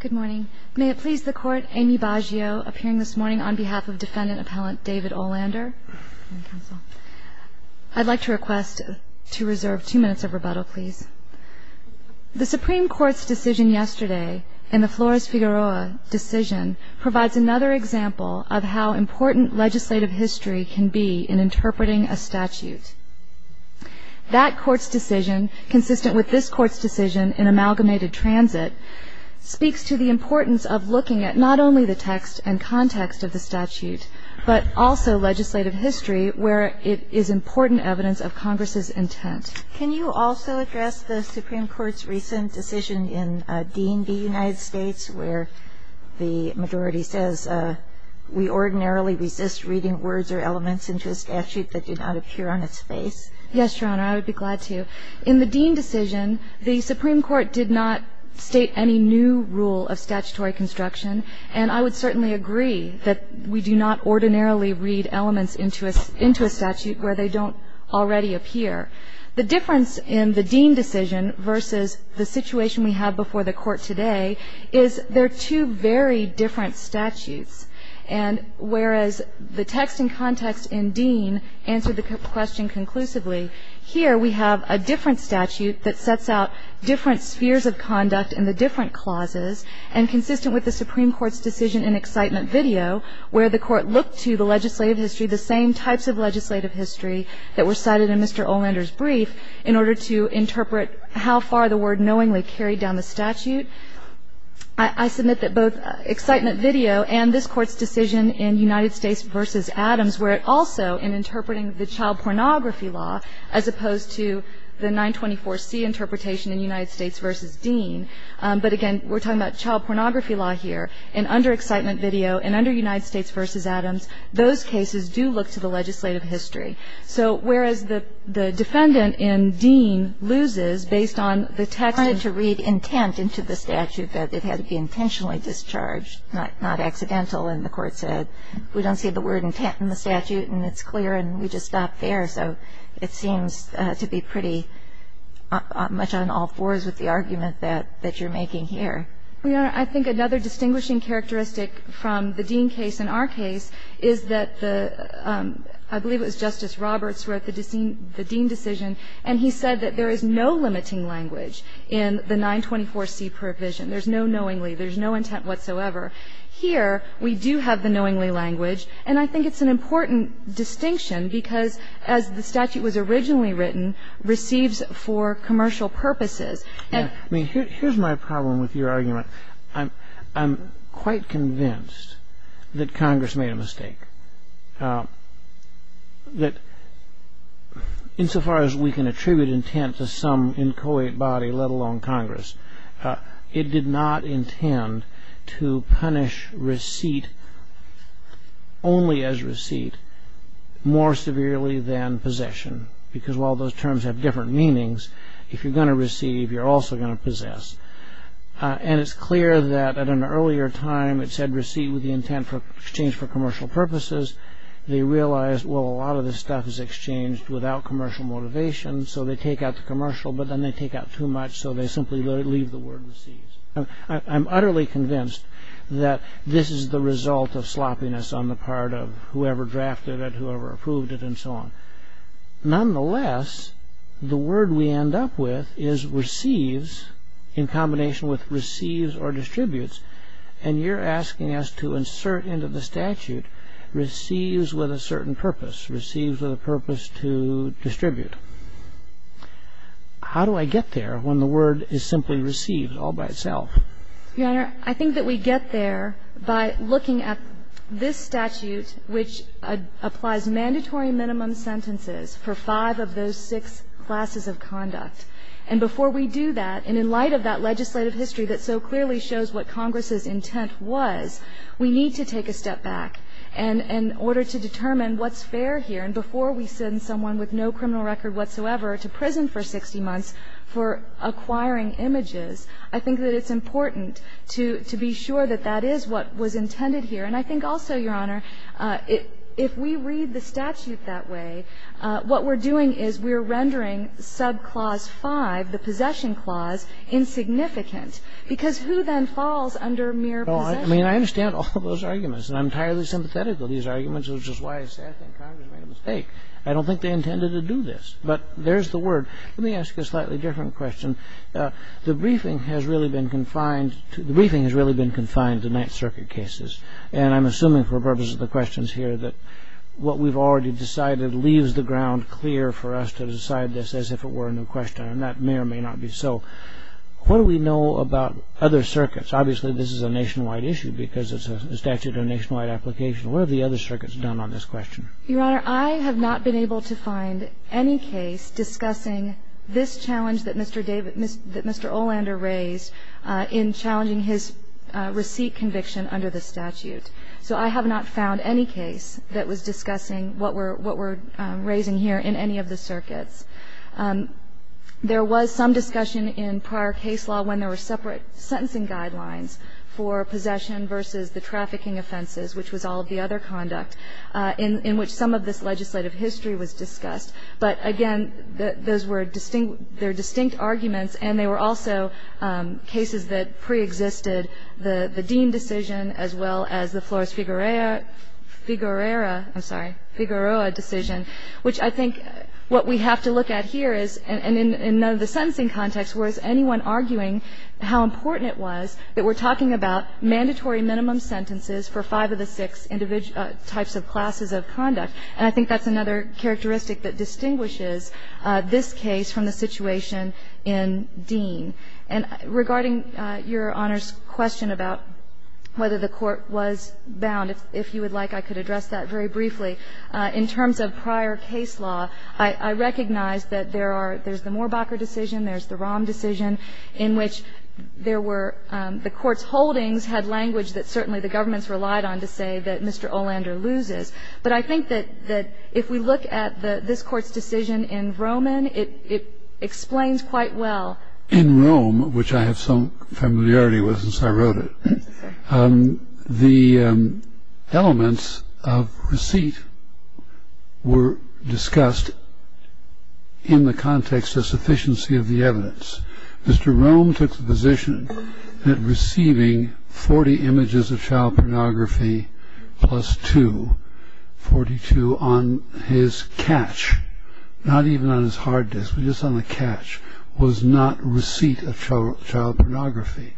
Good morning. May it please the Court, Amy Baggio appearing this morning on behalf of Defendant Appellant David Olander. I'd like to request to reserve two minutes of rebuttal, please. The Supreme Court's decision yesterday, and the Flores-Figueroa decision, provides another example of how important legislative history can be in interpreting a statute. That Court's decision, consistent with this Court's decision in amalgamated transit, speaks to the importance of looking at not only the text and context of the statute, but also legislative history, where it is important evidence of Congress's intent. Can you also address the Supreme Court's recent decision in D&D United States, where the majority says, we ordinarily resist reading words or elements into a statute that do not appear on its face? Yes, Your Honor, I would be glad to. In the Dean decision, the Supreme Court did not state any new rule of statutory construction, and I would certainly agree that we do not ordinarily read elements into a statute where they don't already appear. The difference in the Dean decision versus the situation we have before the Court today is they're two very different statutes. And whereas the text and context in Dean answered the question conclusively, here we have a different statute that sets out different spheres of conduct in the different clauses, and consistent with the Supreme Court's decision in excitement video, where the Court looked to the legislative history, the same types of legislative history that were cited in Mr. Olander's brief, in order to interpret how far the word knowingly carried down the statute. I submit that both excitement video and this Court's decision in United States v. Adams were also in interpreting the child pornography law, as opposed to the 924C interpretation in United States v. Dean. But again, we're talking about child pornography law here. And under excitement video and under United States v. Adams, those cases do look to the legislative history. So whereas the defendant in Dean loses based on the text of the statute. Kagan. I wanted to read intent into the statute that it had to be intentionally discharged, not accidental. And the Court said we don't see the word intent in the statute, and it's clear, and we just stopped there. So it seems to be pretty much on all fours with the argument that you're making here. Well, Your Honor, I think another distinguishing characteristic from the Dean case and our case is that the — I believe it was Justice Roberts who wrote the Dean decision, and he said that there is no limiting language in the 924C provision. There's no knowingly. There's no intent whatsoever. Here, we do have the knowingly language, and I think it's an important distinction, because as the statute was originally written, receives for commercial purposes. Here's my problem with your argument. I'm quite convinced that Congress made a mistake, that insofar as we can attribute intent to some inchoate body, let alone Congress, it did not intend to punish receipt only as receipt more severely than possession, because while those terms have different meanings, if you're going to receive, you're also going to possess. And it's clear that at an earlier time, it said receipt with the intent exchanged for commercial purposes. They realized, well, a lot of this stuff is exchanged without commercial motivation, so they take out the commercial, but then they take out too much, so they simply leave the word receives. I'm utterly convinced that this is the result of sloppiness on the part of whoever drafted it, whoever approved it, and so on. Nonetheless, the word we end up with is receives in combination with receives or distributes, and you're asking us to insert into the statute receives with a certain purpose, receives with a purpose to distribute. How do I get there when the word is simply receives all by itself? Your Honor, I think that we get there by looking at this statute, which applies mandatory minimum sentences for five of those six classes of conduct. And before we do that, and in light of that legislative history that so clearly shows what Congress's intent was, we need to take a step back in order to determine what's fair here. And before we send someone with no criminal record whatsoever to prison for 60 months for acquiring images, I think that it's important to be sure that that is what was intended here. And I think also, Your Honor, if we read the statute that way, what we're doing is we're rendering subclause 5, the possession clause, insignificant, because who then falls under mere possession? I mean, I understand all of those arguments, and I'm entirely sympathetic to these arguments, which is why I say I think Congress made a mistake. I don't think they intended to do this. But there's the word. Let me ask a slightly different question. The briefing has really been confined to the Ninth Circuit cases. And I'm assuming for the purpose of the questions here that what we've already decided leaves the ground clear for us to decide this as if it were a new question. And that may or may not be so. What do we know about other circuits? Obviously, this is a nationwide issue because it's a statute of nationwide application. What have the other circuits done on this question? Your Honor, I have not been able to find any case discussing this challenge that Mr. David Olander raised in challenging his receipt conviction under the statute. So I have not found any case that was discussing what we're raising here in any of the circuits. There was some discussion in prior case law when there were separate sentencing guidelines for possession versus the trafficking offenses, which was all of the other conduct, in which some of this legislative history was discussed. But, again, those were distinct arguments, and they were also cases that preexisted the Dean decision as well as the Flores-Figueroa decision, which I think what we have to look at here is, and in none of the sentencing context was anyone arguing how important it was that we're talking about mandatory minimum sentences for five of the six types of classes of conduct. And I think that's another characteristic that distinguishes this case from the situation in Dean. And regarding Your Honor's question about whether the Court was bound, if you would like, I could address that very briefly. In terms of prior case law, I recognize that there are the Mohrbacher decision, there's the Rahm decision, in which there were the Court's holdings had language that certainly the governments relied on to say that Mr. Olander loses. But I think that if we look at this Court's decision in Roman, it explains quite well. In Rome, which I have some familiarity with since I wrote it, the elements of receipt were discussed in the context of sufficiency of the evidence. Mr. Rome took the position that receiving 40 images of child pornography plus 2, 42 on his catch, not even on his hard disk, but just on the catch, was not receipt of child pornography.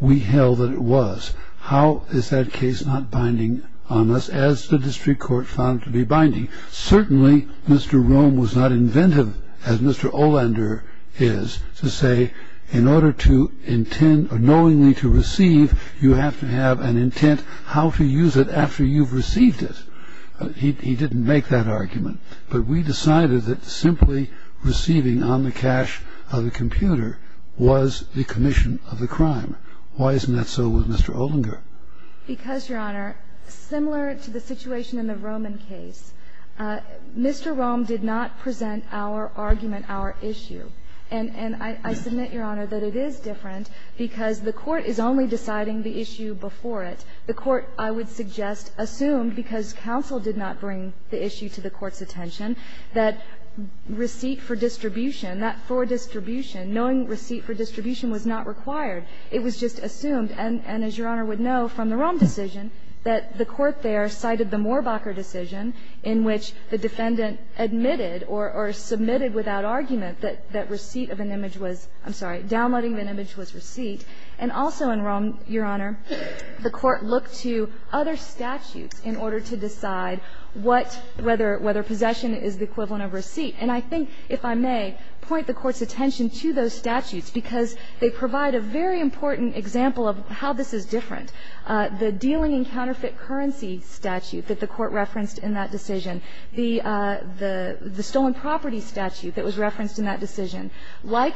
We held that it was. How is that case not binding on us, as the district court found to be binding? Certainly, Mr. Rome was not inventive, as Mr. Olander is, to say in order to intend or knowingly to receive, you have to have an intent how to use it after you've received it. He didn't make that argument. But we decided that simply receiving on the catch of the computer was the commission of the crime. Why isn't that so with Mr. Olinger? Because, Your Honor, similar to the situation in the Roman case, Mr. Rome did not present our argument, our issue. And I submit, Your Honor, that it is different, because the Court is only deciding the issue before it. The Court, I would suggest, assumed, because counsel did not bring the issue to the Court's attention, that receipt for distribution, that for distribution, knowing receipt for distribution was not required. It was just assumed. And as Your Honor would know from the Rome decision, that the Court there cited the Morbacher decision in which the defendant admitted or submitted without argument that receipt of an image was – I'm sorry, downloading an image was receipt. And also in Rome, Your Honor, the Court looked to other statutes in order to decide what – whether possession is the equivalent of receipt. And I think, if I may, point the Court's attention to those statutes, because they provide a very important example of how this is different. The dealing in counterfeit currency statute that the Court referenced in that decision, the stolen property statute that was referenced in that decision. Like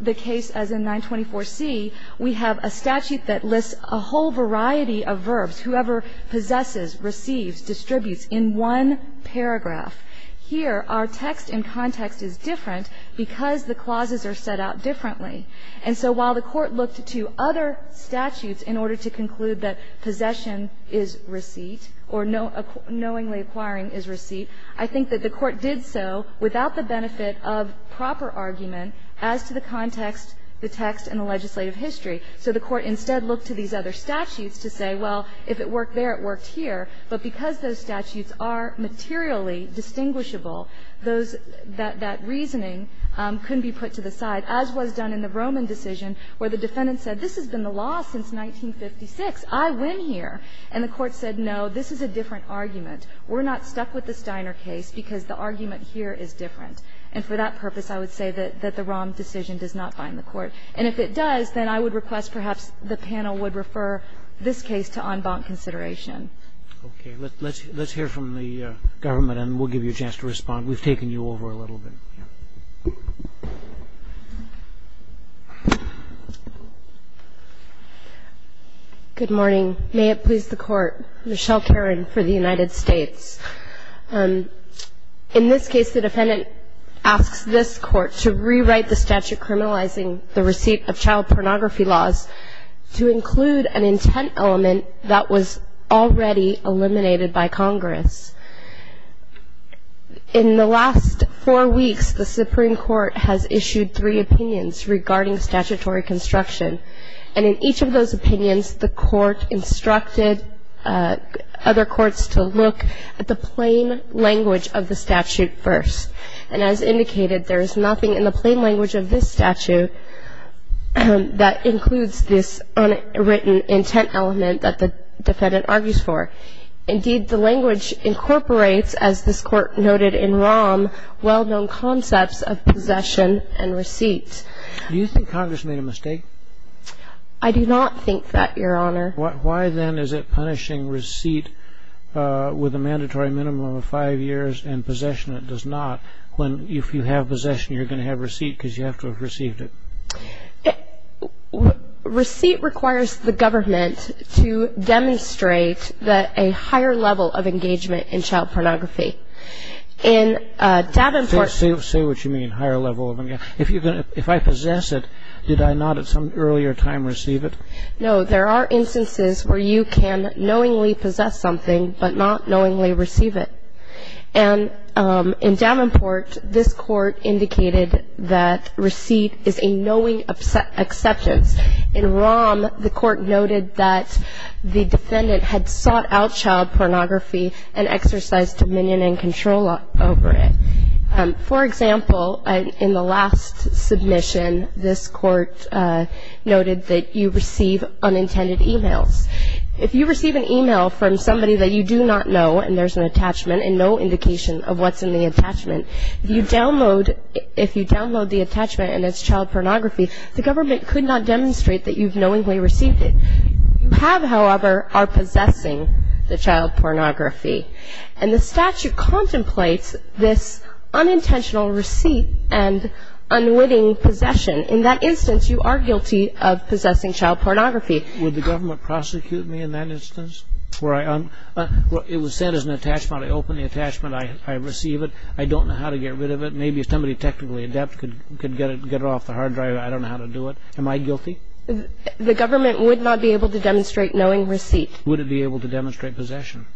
the case as in 924C, we have a statute that lists a whole variety of verbs, whoever possesses, receives, distributes, in one paragraph. Here, our text and context is different because the clauses are set out differently. And so while the Court looked to other statutes in order to conclude that possession is receipt or knowingly acquiring is receipt, I think that the Court did so without the benefit of proper argument as to the context, the text, and the legislative history. So the Court instead looked to these other statutes to say, well, if it worked there, it worked here, but because those statutes are materially distinguishable, those that that reasoning couldn't be put to the side, as was done in the Roman decision, where the defendant said, this has been the law since 1956, I win here. And the Court said, no, this is a different argument. We're not stuck with the Steiner case because the argument here is different. And for that purpose, I would say that the ROM decision does not bind the Court. And if it does, then I would request perhaps the panel would refer this case to en banc consideration. Okay, let's hear from the government, and we'll give you a chance to respond. We've taken you over a little bit. Good morning. May it please the Court. Michelle Caron for the United States. In this case, the defendant asks this Court to rewrite the statute criminalizing the receipt of child pornography laws to include an intent element that was already eliminated by Congress. In the last four weeks, the Supreme Court has issued three opinions regarding statutory construction. And in each of those opinions, the Court instructed other courts to look at the plain language of the statute first. And as indicated, there is nothing in the plain language of this statute that includes this unwritten intent element that the defendant argues for. Indeed, the language incorporates, as this Court noted in ROM, well-known concepts of possession and receipt. Do you think Congress made a mistake? I do not think that, Your Honor. Why then is it punishing receipt with a mandatory minimum of five years and possession that does not, when if you have possession, you're going to have receipt because you have to have received it? Receipt requires the government to demonstrate that a higher level of engagement in child pornography. In Davenport- Say what you mean, higher level of engagement. If I possess it, did I not at some earlier time receive it? No, there are instances where you can knowingly possess something but not knowingly receive it. And in Davenport, this court indicated that receipt is a knowing acceptance. In ROM, the court noted that the defendant had sought out child pornography and exercised dominion and control over it. For example, in the last submission, this court noted that you receive unintended emails. If you receive an email from somebody that you do not know, and there's an attachment and no indication of what's in the attachment. If you download the attachment and it's child pornography, the government could not demonstrate that you've knowingly received it. You have, however, are possessing the child pornography. And the statute contemplates this unintentional receipt and unwitting possession. In that instance, you are guilty of possessing child pornography. Would the government prosecute me in that instance? Where it was said as an attachment, I open the attachment, I receive it. I don't know how to get rid of it. Maybe if somebody technically adept could get it off the hard drive, I don't know how to do it. Am I guilty? The government would not be able to demonstrate knowing receipt. Would it be able to demonstrate possession?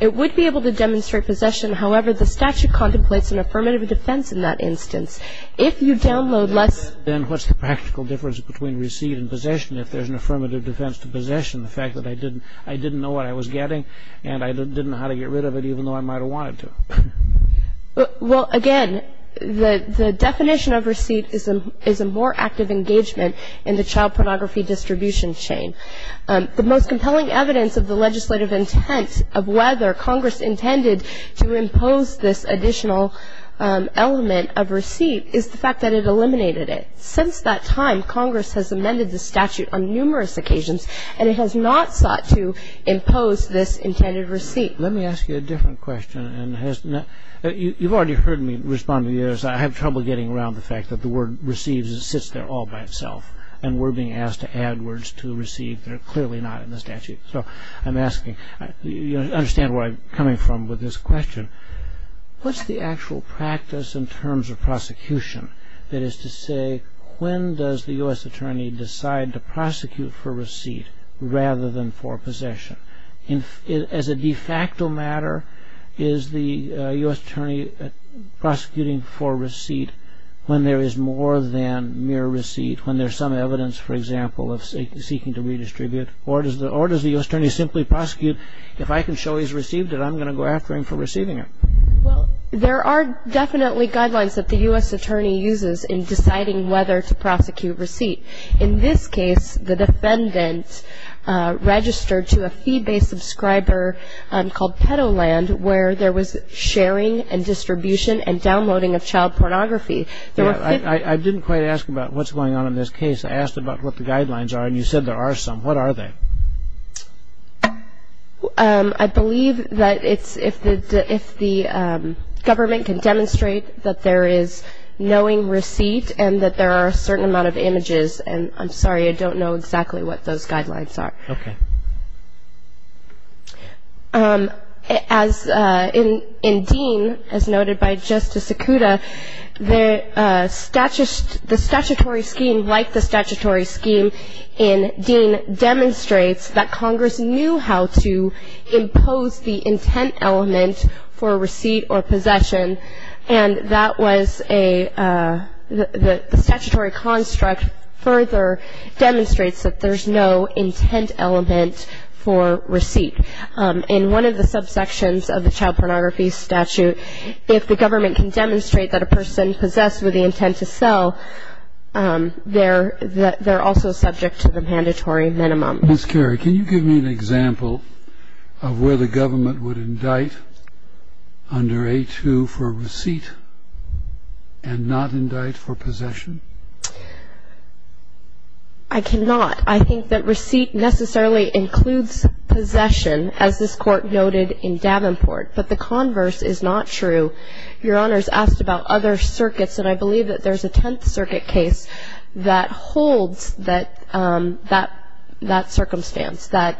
It would be able to demonstrate possession. However, the statute contemplates an affirmative defense in that instance. If you download less- Then what's the practical difference between receipt and possession, if there's an affirmative defense to possession? The fact that I didn't know what I was getting, and I didn't know how to get rid of it, even though I might have wanted to. Well, again, the definition of receipt is a more active engagement in the child pornography distribution chain. The most compelling evidence of the legislative intent of whether Congress intended to impose this additional element of receipt, is the fact that it eliminated it. Since that time, Congress has amended the statute on numerous occasions, and it has not sought to impose this intended receipt. Let me ask you a different question. And you've already heard me respond to the others. I have trouble getting around the fact that the word receives, it sits there all by itself. And we're being asked to add words to receive, they're clearly not in the statute. So I'm asking, you understand where I'm coming from with this question. What's the actual practice in terms of prosecution? That is to say, when does the US attorney decide to prosecute for rather than for possession? And as a de facto matter, is the US attorney prosecuting for receipt when there is more than mere receipt, when there's some evidence, for example, of seeking to redistribute, or does the US attorney simply prosecute? If I can show he's received it, I'm going to go after him for receiving it. Well, there are definitely guidelines that the US attorney uses in deciding whether to prosecute receipt. In this case, the defendant registered to a fee-based subscriber called Petoland, where there was sharing and distribution and downloading of child pornography. There were- I didn't quite ask about what's going on in this case. I asked about what the guidelines are, and you said there are some. What are they? I believe that if the government can demonstrate that there is knowing receipt, and that there are a certain amount of images. And I'm sorry, I don't know exactly what those guidelines are. Okay. As in Dean, as noted by Justice Sikuta, the statutory scheme, like the statutory scheme in Dean, demonstrates that Congress knew how to impose the intent element for receipt, whereas the statutory construct further demonstrates that there's no intent element for receipt. In one of the subsections of the Child Pornography Statute, if the government can demonstrate that a person possessed with the intent to sell, they're also subject to the mandatory minimum. Ms. Carey, can you give me an example of where the government would indict under A2 for receipt? And not indict for possession? I cannot. I think that receipt necessarily includes possession, as this court noted in Davenport, but the converse is not true. Your Honor's asked about other circuits, and I believe that there's a Tenth Circuit case that holds that circumstance, that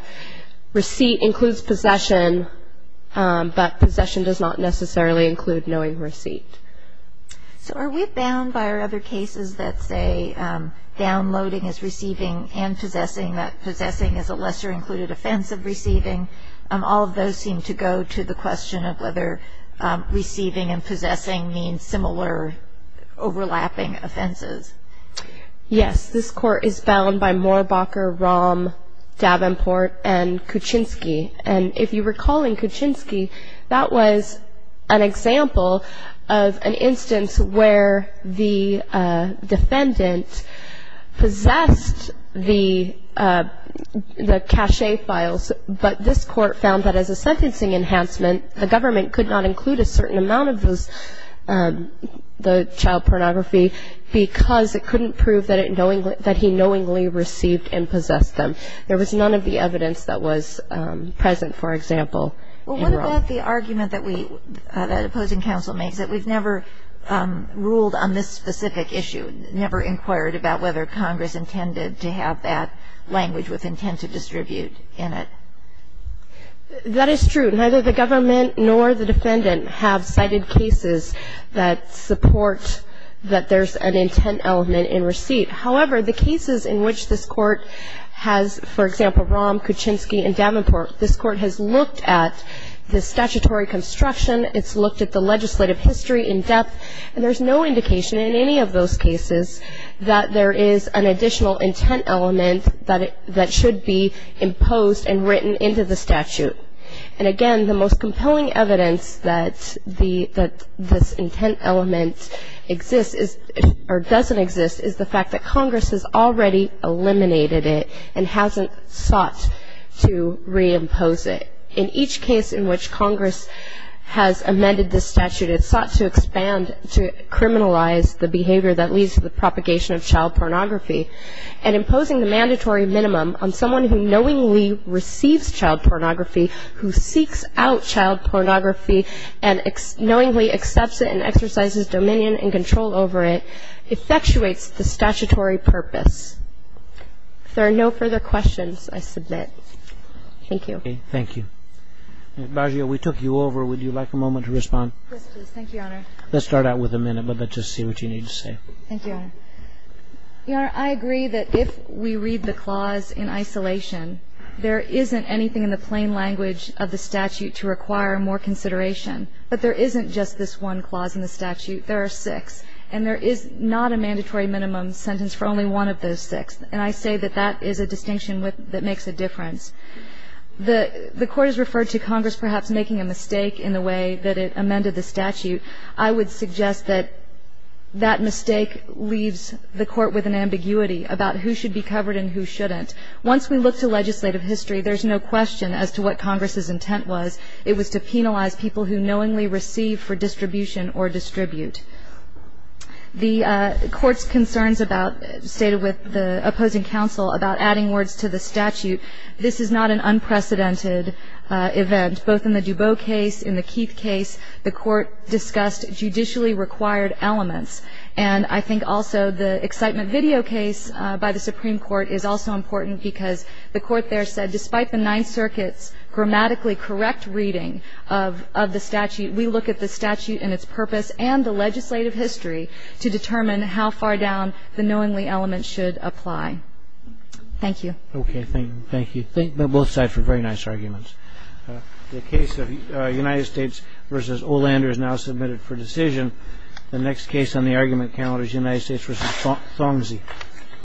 receipt includes possession, but possession does not necessarily include knowing receipt. So are we bound by our other cases that say downloading is receiving and possessing, that possessing is a lesser included offense of receiving? All of those seem to go to the question of whether receiving and possessing means similar overlapping offenses. Yes, this court is bound by Moorbacher, Rahm, Davenport, and Kuczynski. And if you recall in Kuczynski, that was an example of an instance where the defendant possessed the cachet files. But this court found that as a sentencing enhancement, the government could not include a certain amount of the child pornography because it couldn't prove that he knowingly received and possessed them. There was none of the evidence that was present, for example. Well, what about the argument that the opposing counsel makes, that we've never ruled on this specific issue, never inquired about whether Congress intended to have that language with intent to distribute in it? That is true. Neither the government nor the defendant have cited cases that support that there's an intent element in receipt. However, the cases in which this court has, for example, Rahm, Kuczynski, and Davenport, this court has looked at the statutory construction. It's looked at the legislative history in depth. And there's no indication in any of those cases that there is an additional intent element that should be imposed and written into the statute. And again, the most compelling evidence that this intent element exists, or doesn't exist, is the fact that Congress has already eliminated it and hasn't sought to reimpose it. In each case in which Congress has amended this statute, it sought to expand to criminalize the behavior that leads to the propagation of child pornography, and imposing the mandatory minimum on someone who knowingly receives child pornography, who seeks out child pornography, and knowingly accepts it and exercises dominion and control over it, effectuates the statutory purpose. If there are no further questions, I submit. Thank you. Okay, thank you. Ms. Baggio, we took you over. Would you like a moment to respond? Yes, please. Thank you, Your Honor. Let's start out with a minute, but let's just see what you need to say. Thank you, Your Honor. I agree that if we read the clause in isolation, there isn't anything in the plain language of the statute to require more consideration. But there isn't just this one clause in the statute, there are six. And there is not a mandatory minimum sentence for only one of those six. And I say that that is a distinction that makes a difference. The court has referred to Congress perhaps making a mistake in the way that it amended the statute. I would suggest that that mistake leaves the court with an ambiguity about who should be covered and who shouldn't. Once we look to legislative history, there's no question as to what Congress's intent was. It was to penalize people who knowingly receive for distribution or distribute. The court's concerns about, stated with the opposing counsel, about adding words to the statute, this is not an unprecedented event. Both in the Dubot case, in the Keith case, the court discussed judicially required elements. And I think also the excitement video case by the Supreme Court is also important because the court there said, despite the Ninth Circuit's grammatically correct reading of the statute, we look at the statute and its purpose and the legislative history to determine how far down the knowingly element should apply. Thank you. Okay, thank you. Thank both sides for very nice arguments. The case of United States versus Olander is now submitted for decision. The next case on the argument count is United States versus Thomsey.